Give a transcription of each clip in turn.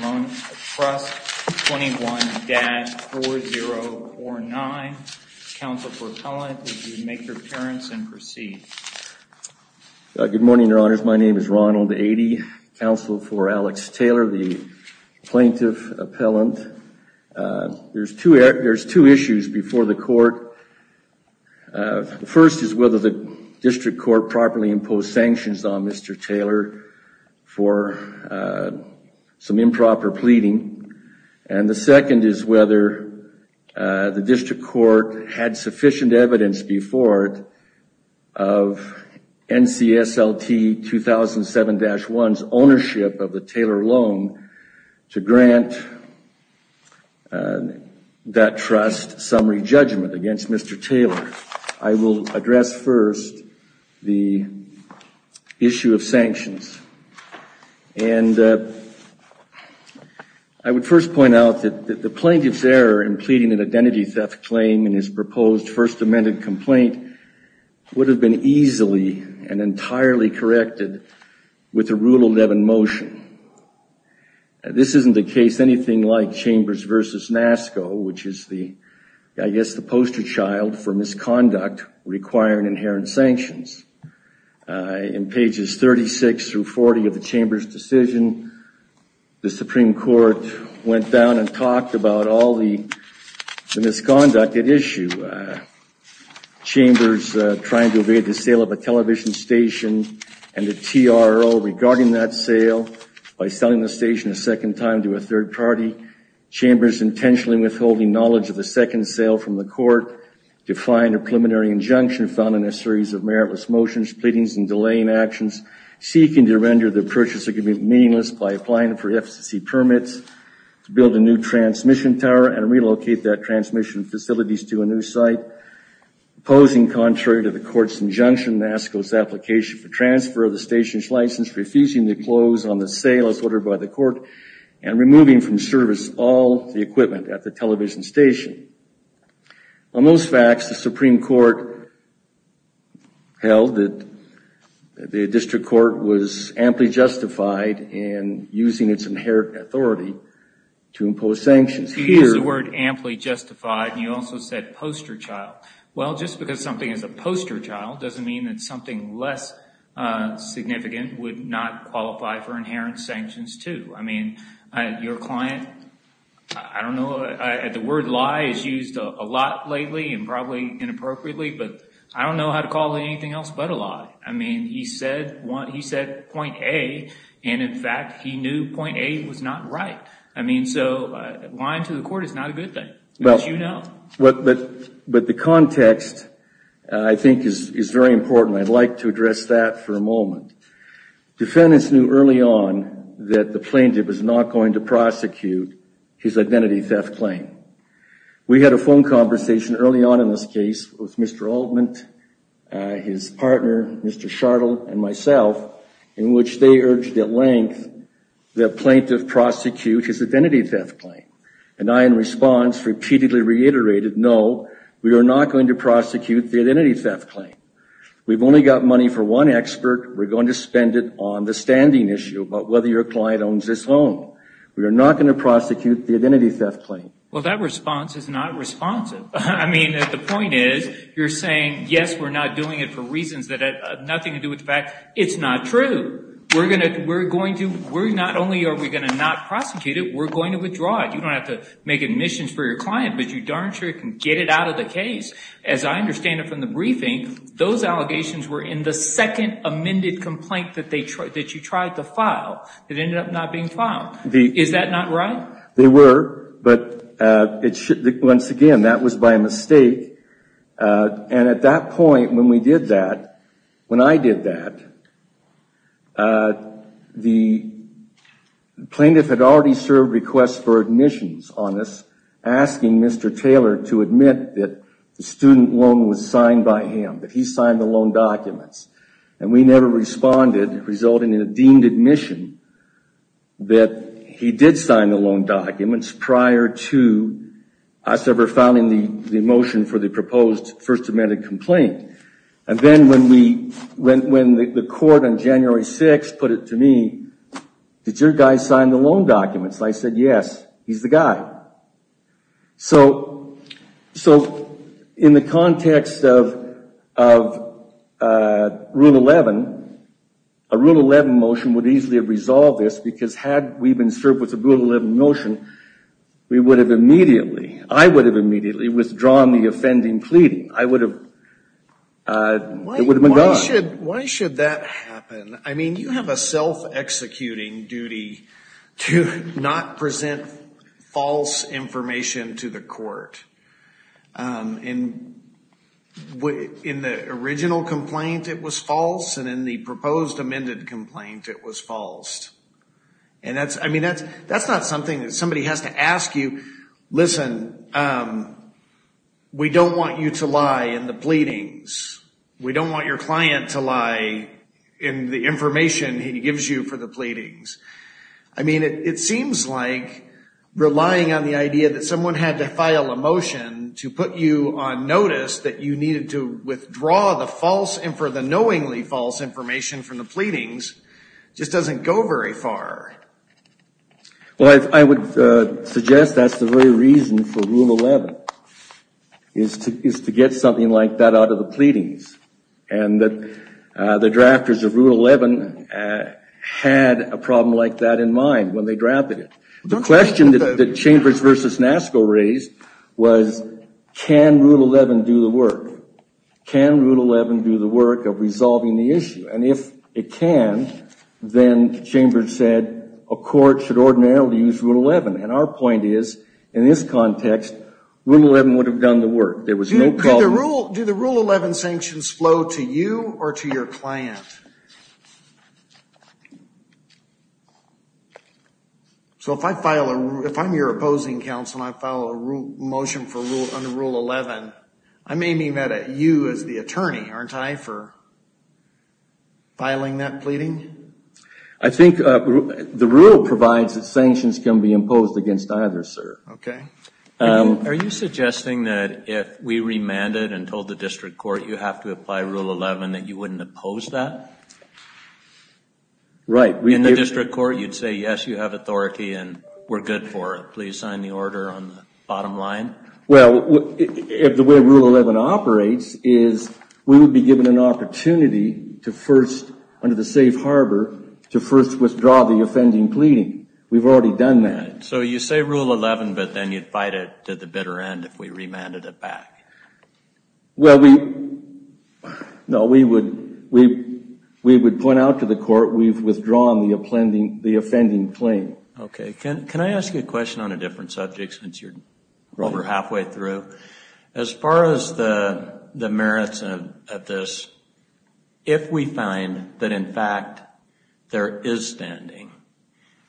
Loan Trust, 21-4049. Counsel for Appellant, if you would make your appearance and proceed. Good morning, Your Honors. My name is Ronald Aidee. Counsel for Alex Taylor, the Plaintiff District Court properly impose sanctions on Mr. Taylor for some improper pleading. And the second is whether the District Court had sufficient evidence before it of NCSLT 2007-1's ownership of the Taylor loan to grant that trust summary judgment against Mr. Taylor. I will address first the issue of sanctions. And I would first point out that the plaintiff's error in pleading an identity theft claim in his proposed First Amendment complaint would have been easily and entirely corrected with a Rule 11 motion. This isn't the case anything like requiring inherent sanctions. In pages 36 through 40 of the Chamber's decision, the Supreme Court went down and talked about all the misconduct at issue. Chambers trying to evade the sale of a television station and the TRO regarding that sale by selling the station a second time to a third party. Chambers intentionally withholding knowledge of the second sale from the court, defying a preliminary injunction found in a series of meritless motions, pleadings, and delaying actions, seeking to render the purchase agreement meaningless by applying for FCC permits to build a new transmission tower and relocate that transmission facilities to a new site. Opposing contrary to the court's injunction, NASSCO's application for transfer of the station's license, refusing to close on the sale as ordered by the station. On those facts, the Supreme Court held that the district court was amply justified in using its inherent authority to impose sanctions. You used the word amply justified and you also said poster child. Well, just because something is a poster child doesn't mean that something less significant would not qualify for inherent sanctions too. I mean, your client, I don't know, the word lie is used a lot lately and probably inappropriately, but I don't know how to call anything else but a lie. I mean, he said point A and in fact he knew point A was not right. I mean, so lying to the court is not a good thing, as you know. But the context I think is very important. I'd like to address that for a moment. Defendants knew early on that the plaintiff was not going to We had a phone conversation early on in this case with Mr. Altman, his partner, Mr. Chardell and myself, in which they urged at length that plaintiff prosecute his identity theft claim. And I, in response, repeatedly reiterated, no, we are not going to prosecute the identity theft claim. We've only got money for one expert. We're going to spend it on the standing issue about whether your client owns this home. We are not going to prosecute the identity theft claim. Well, that response is not responsive. I mean, the point is you're saying, yes, we're not doing it for reasons that have nothing to do with the fact. It's not true. We're not only are we going to not prosecute it, we're going to withdraw it. You don't have to make admissions for your client, but you darn sure can get it out of the case. As I understand it from the briefing, those allegations were in the second amended complaint that you tried to file that ended up not being filed. Is that not right? They were, but once again, that was by mistake. And at that point when we did that, when I did that, the plaintiff had already served requests for admissions on this, asking Mr. Taylor to admit that the student loan was signed by him, that he signed the loan documents. And we never responded, resulting in a deemed admission that he did sign the loan documents prior to us ever filing the motion for the proposed first amended complaint. And then when the court on January 6th put it to me, did your guy sign the loan documents? I said, yes, he's the guy. So in the context of Rule 11, a Rule 11 motion would easily have resolved this because had we been served with a Rule 11 motion, we would have immediately, I would have immediately withdrawn the offending plea. I would have, it would have been gone. Why should that happen? I mean, you have a self-executing duty to not present false information to the court. In the original complaint, it was false. And in the proposed amended complaint, it was false. And that's, I mean, that's not something that somebody has to to lie in the information he gives you for the pleadings. I mean, it seems like relying on the idea that someone had to file a motion to put you on notice that you needed to withdraw the false, and for the knowingly false information from the pleadings, just doesn't go very far. Well, I would suggest that's the very reason for Rule 11, is to get something like that out of the pleadings, and that the drafters of Rule 11 had a problem like that in mind when they drafted it. The question that Chambers v. Nasco raised was, can Rule 11 do the work? Can Rule 11 do the work of resolving the issue? And if it can, then Chambers said, a court should ordinarily use Rule 11. And our point is, in this context, Rule 11 would have done the work. There was no problem. Do the Rule 11 sanctions flow to you or to your client? So if I file a, if I'm your opposing counsel and I file a rule motion for Rule, under Rule 11, I may mean that at you as the attorney, aren't I, for filing that pleading? I think the rule provides that sanctions can be imposed against either, sir. Okay. Are you suggesting that if we remanded and told the district court, you have to apply Rule 11, that you wouldn't oppose that? Right. In the district court, you'd say, yes, you have authority and we're good for it. Please sign the order on the bottom line. Well, if the way Rule 11 operates is, we would be given an opportunity to first, under the safe harbor, to first withdraw the offending pleading. We've already done that. So you say Rule 11, but then you'd fight it to the bitter end if we remanded it back. Well, we, no, we would, we would point out to the court, we've withdrawn the offending claim. Okay. Can I ask you a question on a different subject since you're over halfway through? As far as the merits of this, if we find that, in fact, there is standing,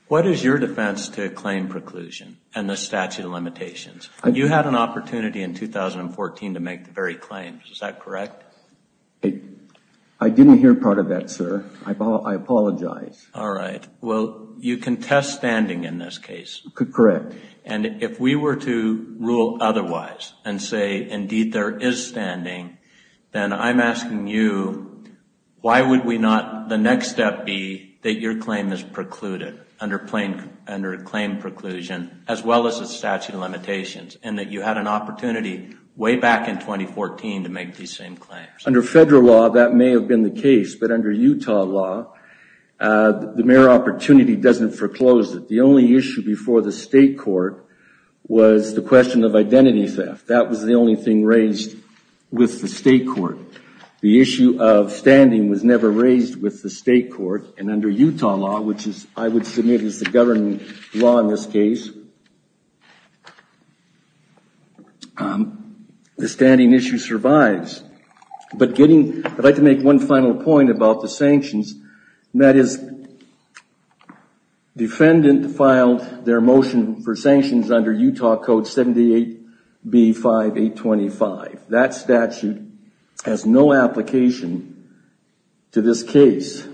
what is your defense to a claim preclusion and the statute of limitations? You had an opportunity in 2014 to make the very claim. Is that correct? I didn't hear part of that, sir. I apologize. All right. Well, you contest standing in this case. Correct. And if we were to rule otherwise and say, indeed, there is standing, then I'm asking you, why would we not, the next step be that your claim is precluded under a claim preclusion, as well as a statute of limitations, and that you had an opportunity way back in 2014 to make these same claims? Under federal law, that may have been the case, but under Utah law, the mere opportunity doesn't foreclose it. The only issue before the state court was the question of identity theft. That was the only thing raised with the state court. The issue of standing was never raised with the state court, and under Utah law, which I would submit is the government law in this case, the standing issue survives. But I'd like to make one final point about the sanctions, and that is defendant filed their motion for sanctions under Utah Code 78B5825. That statute has no application to this case.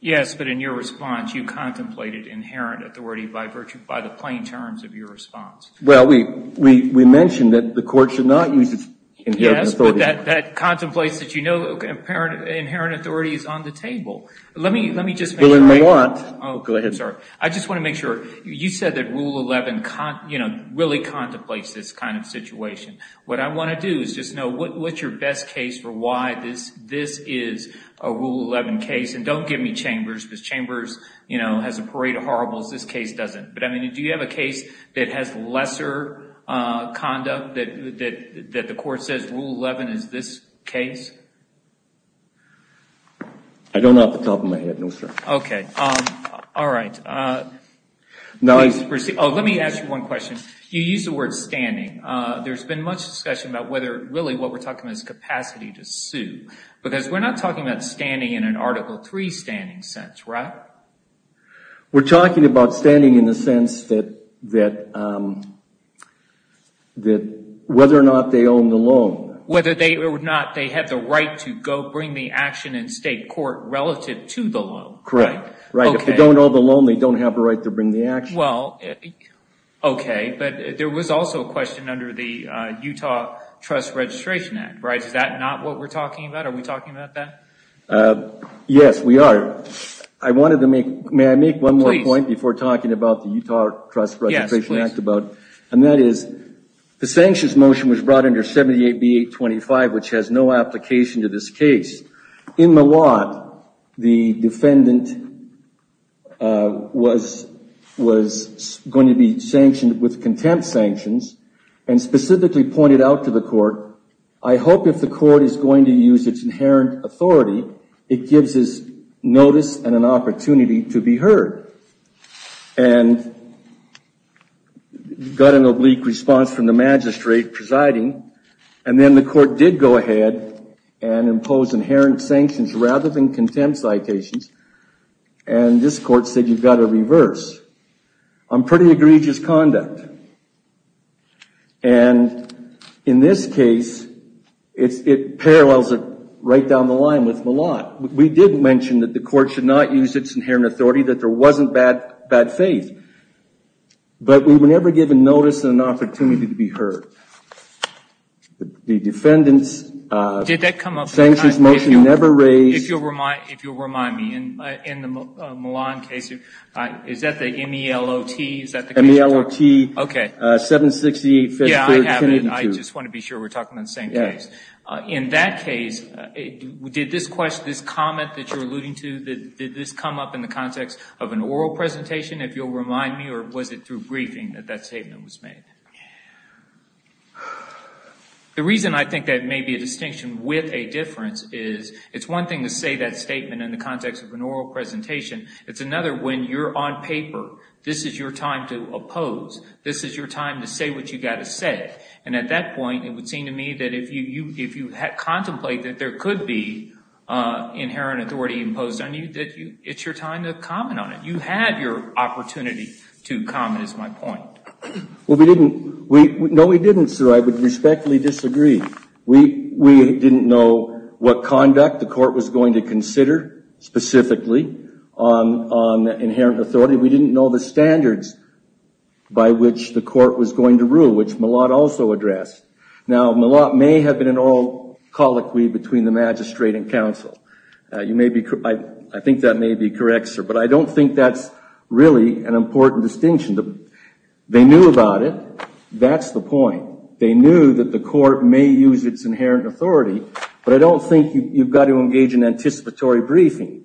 Yes, but in your response, you contemplated inherent authority by the plain terms of your response. Well, we mentioned that the court should not use its inherent authority. Yes, but that contemplates that you know inherent authority is on the table. I just want to make sure, you said that Rule 11 really contemplates this kind of situation. What I want to do is just know what's your best case for why this is a Rule 11 case, and don't give me Chambers, because Chambers has a parade of horribles. This case doesn't. Do you have a case that has lesser conduct that the court says Rule 11 is this case? I don't off the top of my head, no sir. Okay. All right. Let me ask you one question. You used the word standing. There's been much discussion about whether really what we're talking about is capacity to sue, because we're not talking about standing in an Article 3 standing sense, right? We're talking about standing in the sense that whether or not they own the loan. Whether or not they have the right to go bring the action in state court relative to the loan. Correct. If they don't own the loan, they don't have a right to bring the action. Well, okay, but there was also a question under the Utah Trust Registration Act, right? Is that not what we're talking about? Are we talking about that? Yes, we are. May I make one more point before talking about the Utah Trust Registration Act? Yes, please. And that is the sanctions motion was brought under 78B825, which has no application to this case. In Miwot, the defendant was going to be sanctioned with contempt sanctions and specifically pointed out to the court, I hope if the court is going to use its inherent authority, it gives us notice and an opportunity to be heard. And got an oblique response from the magistrate presiding. And then the court did go ahead and impose inherent sanctions rather than contempt citations. And this court said, you've got to reverse. On pretty egregious conduct. And in this case, it parallels it right down the line with Miwot. We did mention that the court should not use its inherent authority, that there wasn't bad faith. But we were never given notice and an opportunity to be heard. The defendant's sanctions motion never raised... If you'll remind me, in the Milan case, is that the M-E-L-O-T? M-E-L-O-T, 768 Fifth Street, Kennedy Street. I just want to be sure we're talking about the same place. In that case, did this comment that you're alluding to, did this come up in the context of an oral presentation, if you'll remind me, or was it through briefing that that statement was made? The reason I think that may be a distinction with a difference is, it's one thing to say that statement in the context of an oral presentation. It's another, when you're on paper, this is your time to oppose. This is your time to say what you've got to say. And at that point, it would seem to me that if you contemplate that there could be inherent authority imposed on you, that it's your time to comment on it. You had your opportunity to comment, is my point. Well, we didn't. No, we didn't, sir. I would respectfully disagree. We didn't know what conduct the court was going to consider, specifically, on inherent authority. We didn't know the standards by which the court was going to rule, which M-E-L-O-T also addressed. Now, M-E-L-O-T may have been an oral colloquy between the magistrate and counsel. I think that may be correct, sir. But I don't think that's really an important distinction. They knew about it. That's the point. They knew that the court may use its inherent authority. But I don't think you've got to engage in anticipatory briefing.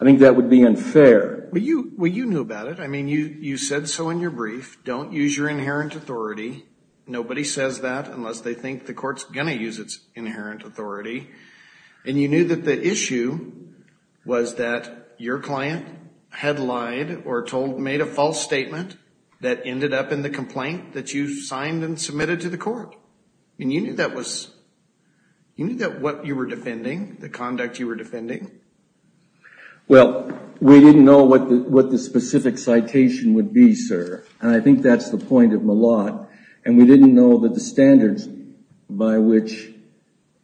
I think that would be unfair. Well, you knew about it. I mean, you said so in your brief. Don't use your inherent authority. Nobody says that unless they think the court's going to use its inherent authority. And you knew that the issue was that your client had lied or told, made a false statement that ended up in the complaint that you signed and submitted to the court. And you knew that was, you knew that what you were defending, the conduct you were defending. Well, we didn't know what the specific citation would be, sir. And I think that's the point of M-E-L-O-T. And we didn't know that the standards by which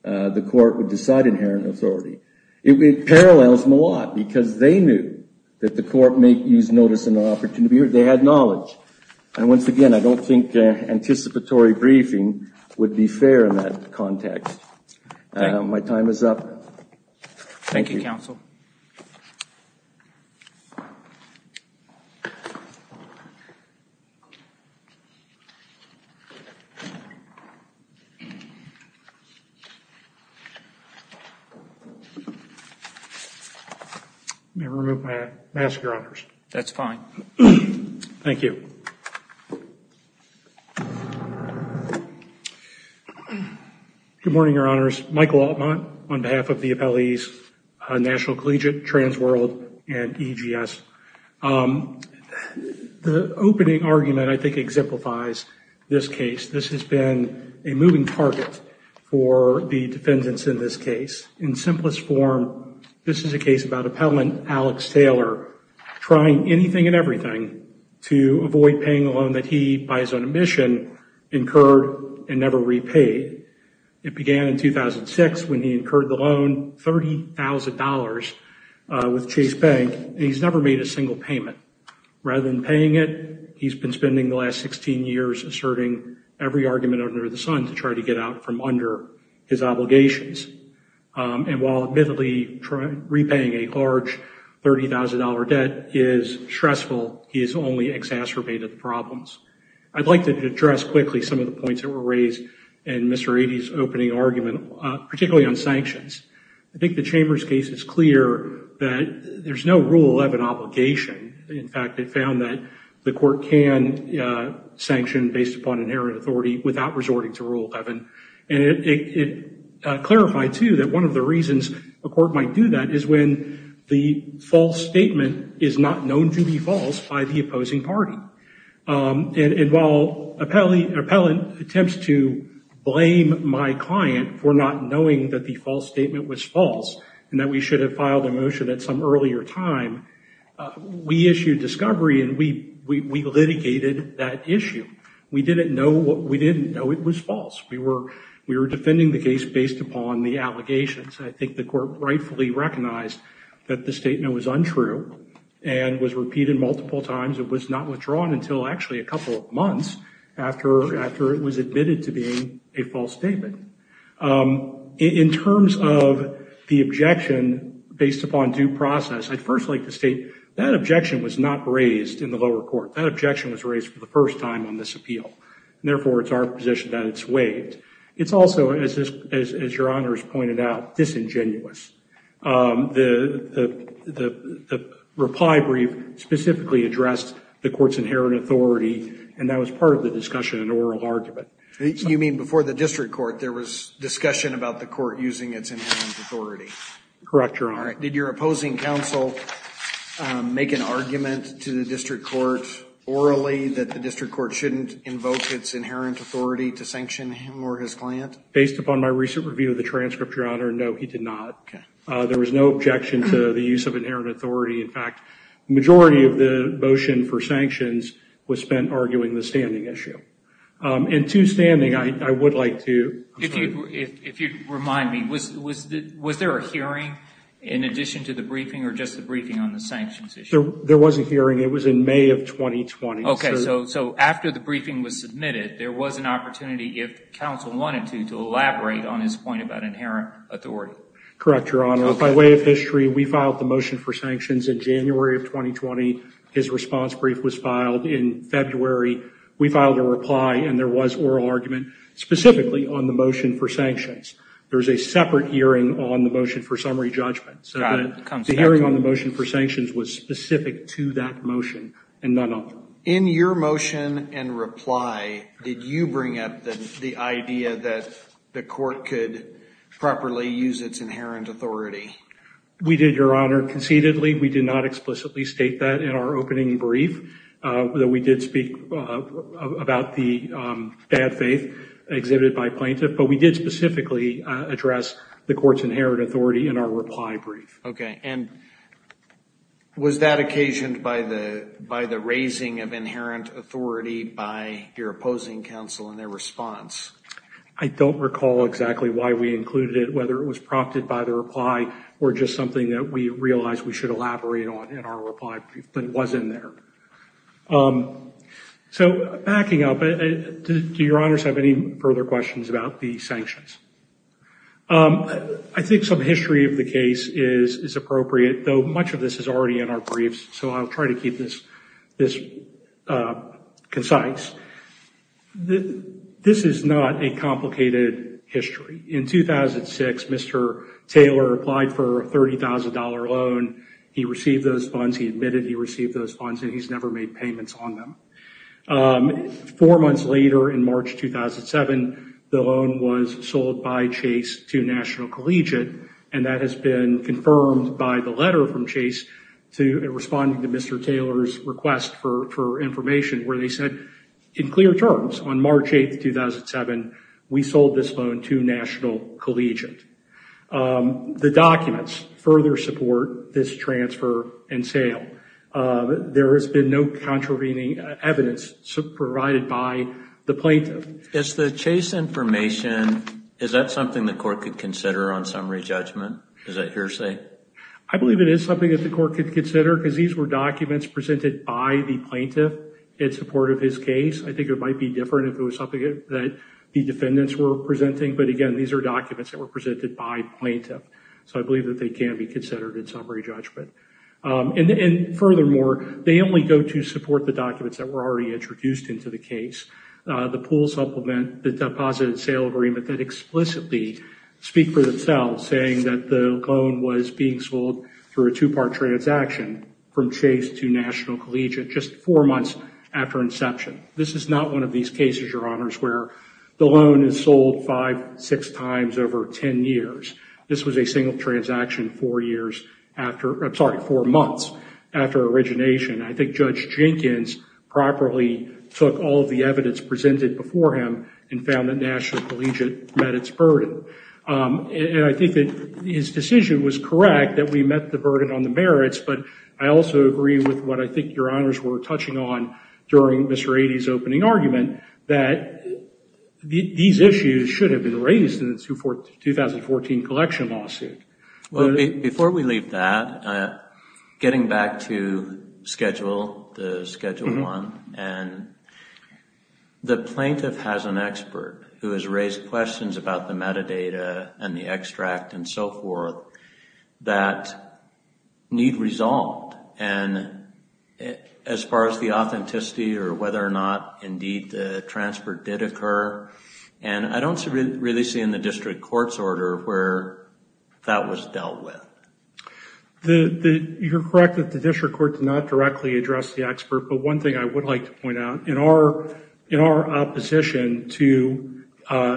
the court would decide inherent authority. It parallels M-E-L-O-T because they knew that the court may use notice and opportunity. They had knowledge. And once again, I don't think anticipatory briefing would be fair in that context. My time is up. Thank you, counsel. May I remove my mask, your honors? That's fine. Thank you. Good morning, your honors. Michael Altman on behalf of the appellees, National Collegiate, Transworld, and EGS. The opening argument, I think, exemplifies this case. This has been a moving target for the defendants in this case. In simplest form, this is a case about appellant Alex Taylor trying anything and everything to avoid paying a loan that he, by his own admission, incurred and never repaid. It began in 2006 when he incurred the loan, $30,000 with Chase Bank. He's never made a single payment. Rather than paying it, he's been spending the last 16 years asserting every argument under the sun to try to get out from under his obligations. And while admittedly repaying a large $30,000 debt is stressful, he has only exacerbated the problems. I'd like to address quickly some of the points that were raised in Mr. Eaddy's opening argument, particularly on sanctions. I think the Chambers case is clear that there's no Rule 11 obligation. In fact, it found that the court can sanction based upon inherent authority without resorting to Rule 11. And it clarified, too, that one of the reasons a court might do that is when the false statement is not known to be false by the opposing party. And while an appellant attempts to blame my client for not knowing that the false statement was false and that we should have filed a motion at some earlier time, we issued discovery and we litigated that issue. We didn't know it was false. We were defending the case based upon the allegations. I think the court rightfully recognized that the statement was untrue and was repeated multiple times. It was not withdrawn until actually a couple of months after it was admitted to being a false statement. In terms of the objection based upon due process, I'd first like to state that objection was not raised in the lower court. That objection was raised for the first time on this appeal. Therefore, it's our position that it's waived. It's also, as Your Honor has pointed out, disingenuous. The reply brief specifically addressed the court's inherent authority and that was part of the discussion and oral argument. You mean before the district court there was discussion about the court using its inherent authority? Correct, Your Honor. Did your opposing counsel make an argument to the district court orally that the district court shouldn't invoke its inherent authority to sanction him or his client? Based upon my recent review of the transcript, Your Honor, no, he did not. There was no objection to the use of inherent authority. In fact, the majority of the motion for sanctions was spent arguing the standing issue. In two standing, I would like to... If you remind me, was there a hearing in addition to the briefing or just the briefing on the sanctions issue? There was a hearing. It was in May of 2020. Okay. So after the briefing was submitted, there was an opportunity, if counsel wanted to, to elaborate on his point about inherent authority. Correct, Your Honor. By way of history, we filed the motion for sanctions in January of 2020. His response brief was filed in February. We filed a reply and there was oral argument specifically on the motion for sanctions. There's a separate hearing on the motion for summary judgment. So the hearing on the motion for sanctions was specific to that motion and none other. In your motion and reply, did you bring up the idea that the court could properly use its inherent authority? We did, Your Honor, concededly. We did not explicitly state that in our opening brief. We did speak about the bad faith exhibited by plaintiff, but we did specifically address the court's inherent authority in our reply brief. Okay. And was that occasioned by the raising of inherent authority by your opposing counsel in their response? I don't recall exactly why we included it, whether it was prompted by the reply or just something that we realized we should elaborate on in our reply brief, but it was in there. So backing up, do Your Honors have any further questions about the sanctions? I think some history of the case is appropriate, though much of this is already in our briefs, so I'll try to keep this concise. This is not a complicated history. In 2006, Mr. Taylor applied for a $30,000 loan. He admitted he received those funds. He's never made payments on them. Four months later, in March 2007, the loan was sold by Chase to National Collegiate, and that has been confirmed by the letter from Chase responding to Mr. Taylor's request for information where they said in clear terms on March 8th, 2007, we sold this loan to National Collegiate. The documents further support this transfer and sale. There has been no contravening evidence provided by the plaintiff. Is the Chase information, is that something the court could consider on summary judgment? Is that hearsay? I believe it is something that the court could consider, because these were documents presented by the plaintiff in support of his case. I think it might be different if it was something that the defendants were presenting, but again, these are documents that were presented by plaintiff, so I believe that they can be considered in summary judgment. And furthermore, they only go to support the documents that were already introduced into the case, the pool supplement, the deposit and sale agreement that explicitly speak for themselves, saying that the loan was being sold through a two-part transaction from Chase to National Collegiate just four months after inception. This is not one of these cases, Your Honors, where the loan is sold five, six times over 10 years. This was a single transaction four years after, I'm sorry, four months after origination. I think Judge Jenkins properly took all of the evidence presented before him and found that National Collegiate met its burden. And I think that his decision was correct, that we met the burden on the merits, but I also agree with what I think Your Honors were touching on during Mr. Ady's opening argument, that these issues should have been raised in the 2014 collection lawsuit. Well, before we leave that, getting back to schedule, the schedule one, and the plaintiff has an expert who has raised questions about the metadata and the extract and so forth that need resolved. And as far as the authenticity or whether or not indeed the transfer did occur, and I don't really see in the district court's order where that was dealt with. You're correct that the district court did not directly address the expert, but one thing I would like to point out, in our opposition to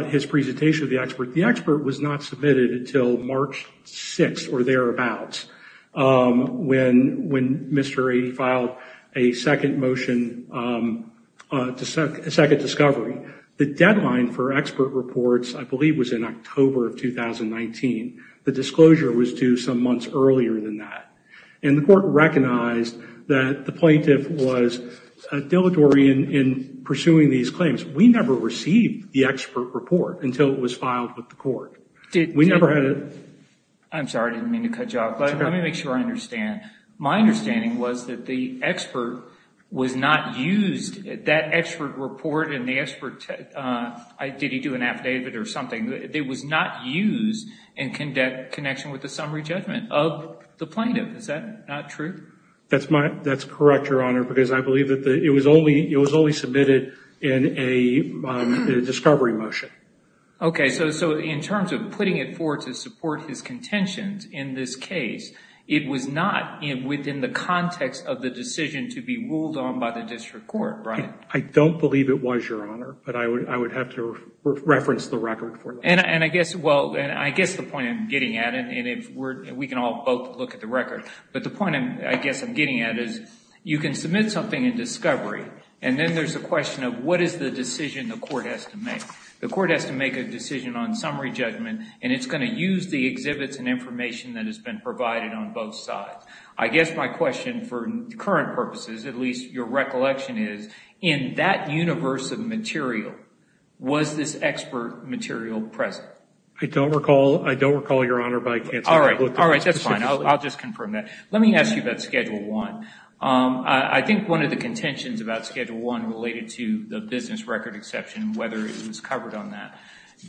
his presentation of the expert, the expert was not submitted until March 6th or thereabouts, when Mr. Ady filed a second motion, a second discovery. The deadline for expert reports, I believe, was in October of 2019. The disclosure was due some months earlier than that. And the court recognized that the plaintiff was dilatory in pursuing these claims. We never received the expert report until it was filed with the court. I'm sorry, I didn't mean to cut you off, but let me make sure I understand. My understanding was that the expert was not used. That expert report and the expert, did he do an affidavit or something? It was not used in connection with the summary judgment of the plaintiff. Is that not true? That's correct, Your Honor, because I believe that it was only submitted in a discovery motion. Okay, so in terms of putting it forward to support his contentions in this case, it was not within the context of the decision to be ruled on by the district court, right? I don't believe it was, Your Honor, but I would have to reference the record for that. And I guess the point I'm getting at, and we can all both look at the record, but the point I guess I'm getting at is you can submit something in discovery, and then there's the question of what is the decision the court has to make. The court has to make a decision on summary judgment, and it's going to use the exhibits and information that has been provided on both sides. I guess my question for current purposes, at least your recollection is, in that universe of material, was this expert material present? I don't recall, Your Honor, but I can't tell you what the specifics are. All right, that's fine. I'll just confirm that. Let me ask you about Schedule 1. I think one of the contentions about Schedule 1 related to the business record exception, whether it was covered on that.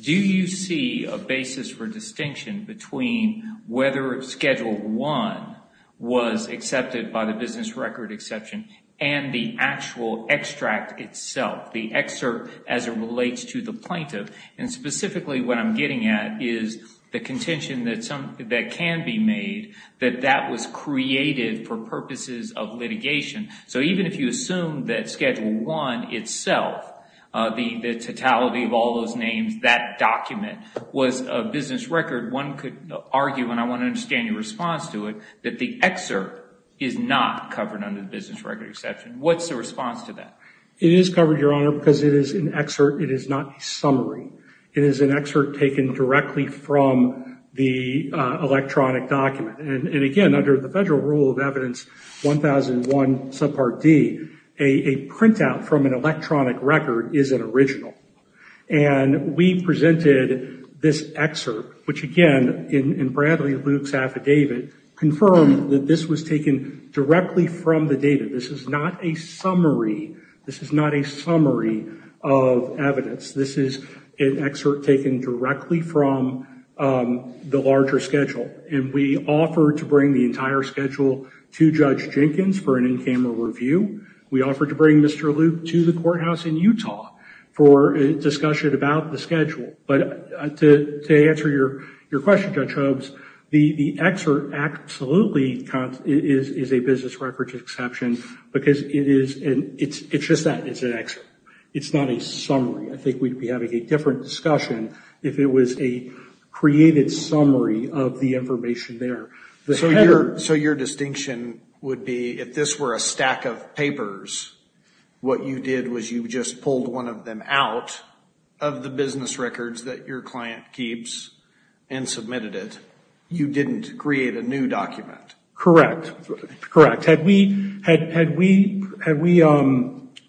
Do you see a basis for distinction between whether Schedule 1 was accepted by the business record exception and the actual extract itself, the excerpt as it relates to the plaintiff? And specifically what I'm getting at is the contention that can be made that that was created for purposes of litigation. So even if you assume that Schedule 1 itself, the totality of all those names, that document was a business record, one could argue, and I want to understand your response to it, that the excerpt is not covered under the business record exception. What's the response to that? It is covered, Your Honor, because it is an excerpt. It is not a summary. It is an excerpt taken directly from the electronic document. And again, under the Federal Rule of Evidence 1001, Subpart D, a printout from an electronic record is an original. And we presented this excerpt, which again, in Bradley Luke's affidavit, confirmed that this was taken directly from the data. This is not a summary. This is not a summary of evidence. This is an excerpt taken directly from the larger schedule. And we offered to bring the entire schedule to Judge Jenkins for an in-camera review. We offered to bring Mr. Luke to the courthouse in Utah for a discussion about the schedule. But to answer your question, Judge Hobbs, the excerpt absolutely is a business record exception because it's just that. It's an excerpt. It's not a summary. I think we'd be having a different discussion if it was a created summary of the information there. So your distinction would be if this were a stack of papers, what you did was you just pulled one of them out of the business records that your client keeps and submitted it. You didn't create a new document. Correct. Correct. Had we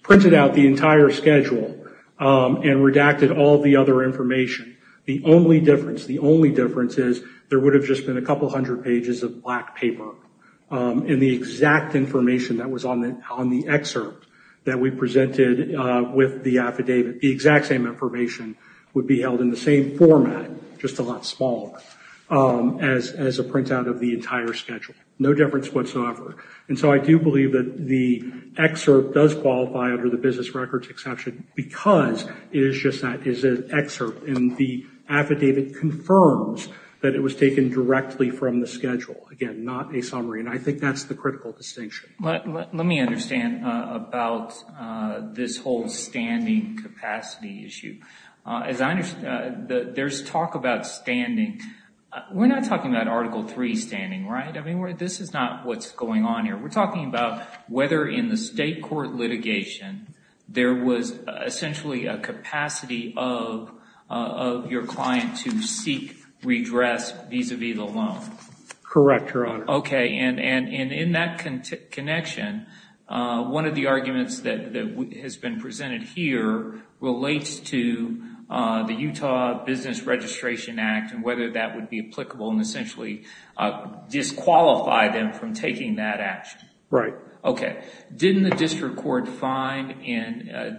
printed out the entire schedule and redacted all the other information, the only difference is there would have just been a couple hundred pages of black paper. And the exact information that was on the excerpt that we presented with the affidavit, the exact same information would be held in the same format, just a lot smaller, as a printout of the entire schedule. No difference whatsoever. And so I do believe that the excerpt does qualify under the business records exception because it is just that it is an excerpt and the affidavit confirms that it was taken directly from the schedule. Again, not a summary. And I think that's the critical distinction. Let me understand about this whole standing capacity issue. As I understand, there's talk about standing. We're not talking about Article III standing, right? I mean, this is not what's going on here. We're talking about whether in the state court litigation, there was essentially a capacity of your client to seek redress vis-a-vis the loan. Correct, Your Honor. Okay, and in that connection, one of the arguments that has been presented here relates to the Utah Business Registration Act and whether that would be applicable and essentially disqualify them from taking that action. Right. Okay. Didn't the district court find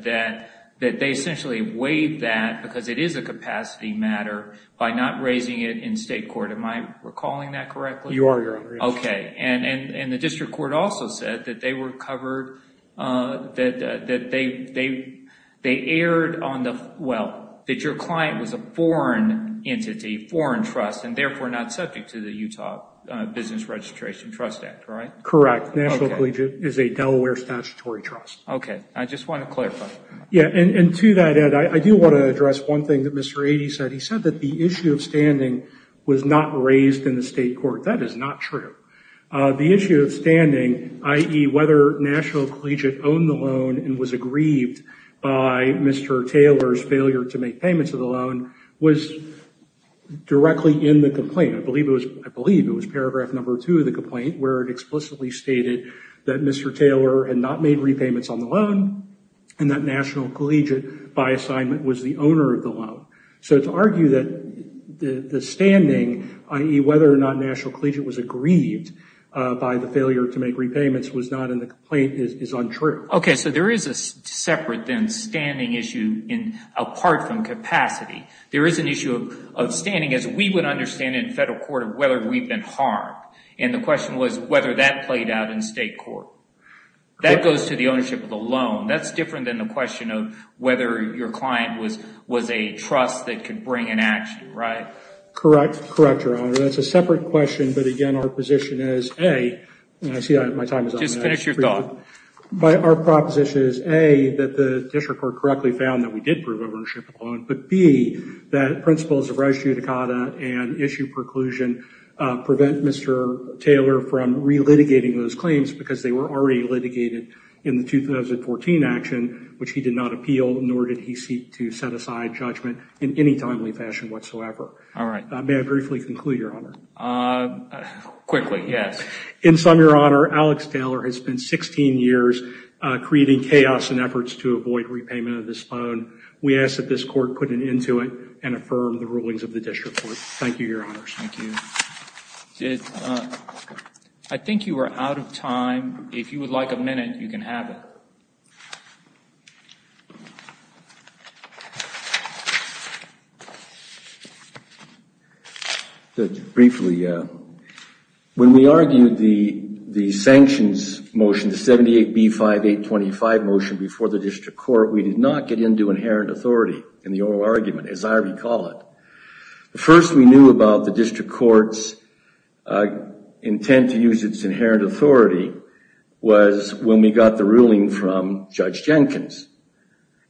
that they essentially weighed that because it is a capacity matter by not raising it in state court? Am I recalling that correctly? You are, Your Honor. Okay, and the district court also said that they were covered, that they erred on the... Well, that your client was a foreign entity, foreign trust and therefore not subject to the Utah Business Registration Trust Act, right? Correct. National Collegiate is a Delaware statutory trust. Okay. I just want to clarify. Yeah, and to that, Ed, I do want to address one thing that Mr. Aidey said. He said that the issue of standing was not raised in the state court. That is not true. The issue of standing, i.e., whether National Collegiate owned the loan and was aggrieved by Mr. Taylor's failure to make payments of the loan was directly in the complaint. I believe it was paragraph number two of the complaint where it explicitly stated that Mr. Taylor had not made repayments on the loan and that National Collegiate, by assignment, was the owner of the loan. So to argue that the standing, i.e., whether or not National Collegiate was aggrieved by the failure to make repayments was not in the complaint is untrue. Okay. So there is a separate then standing issue apart from capacity. There is an issue of standing as we would understand in federal court of whether we've been harmed. And the question was whether that played out in state court. That goes to the ownership of the loan. That's different than the question of whether your client was a trust that could bring an action, right? Correct. Correct, Your Honor. That's a separate question. But again, our position is, A, and I see my time is up. Just finish your thought. But our proposition is, A, that the district court correctly found that we did prove ownership of the loan. But, B, that principles of res judicata and issue preclusion prevent Mr. Taylor from relitigating those claims because they were already litigated in the 2014 action, which he did not appeal, nor did he seek to set aside judgment in any timely fashion whatsoever. All right. May I briefly conclude, Your Honor? Quickly, yes. In sum, Your Honor, Alex Taylor has spent 16 years creating chaos and efforts to avoid repayment of this loan. We ask that this court put an end to it and affirm the rulings of the district court. Thank you, Your Honors. Thank you. I think you are out of time. If you would like a minute, you can have it. Thank you. Briefly, when we argued the sanctions motion, the 78B5825 motion before the district court, we did not get into inherent authority in the oral argument, as I recall it. The first we knew about the district court's intent to use its inherent authority was when we got the ruling from Judge Jenkins.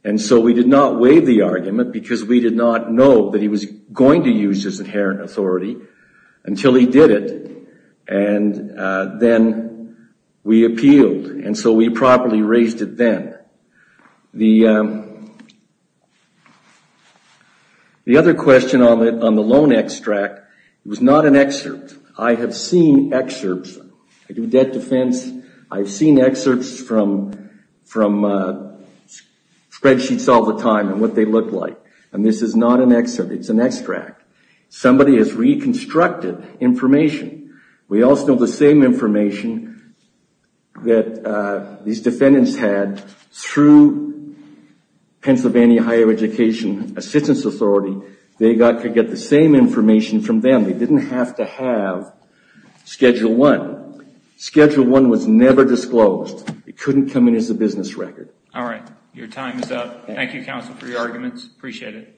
And so we did not waive the argument because we did not know that he was going to use his inherent authority until he did it. And then we appealed. And so we properly raised it then. The other question on the loan extract was not an excerpt. I have seen excerpts. I do debt defense. I've seen excerpts from spreadsheets all the time and what they look like. And this is not an excerpt. It's an extract. Somebody has reconstructed information. We also have the same information that these defendants had through Pennsylvania Higher Education Assistance Authority. They got to get the same information from them. They didn't have to have schedule one. Schedule one was never disclosed. It couldn't come in as a business record. All right. Your time is up. Thank you, counsel, for your arguments. Appreciate it.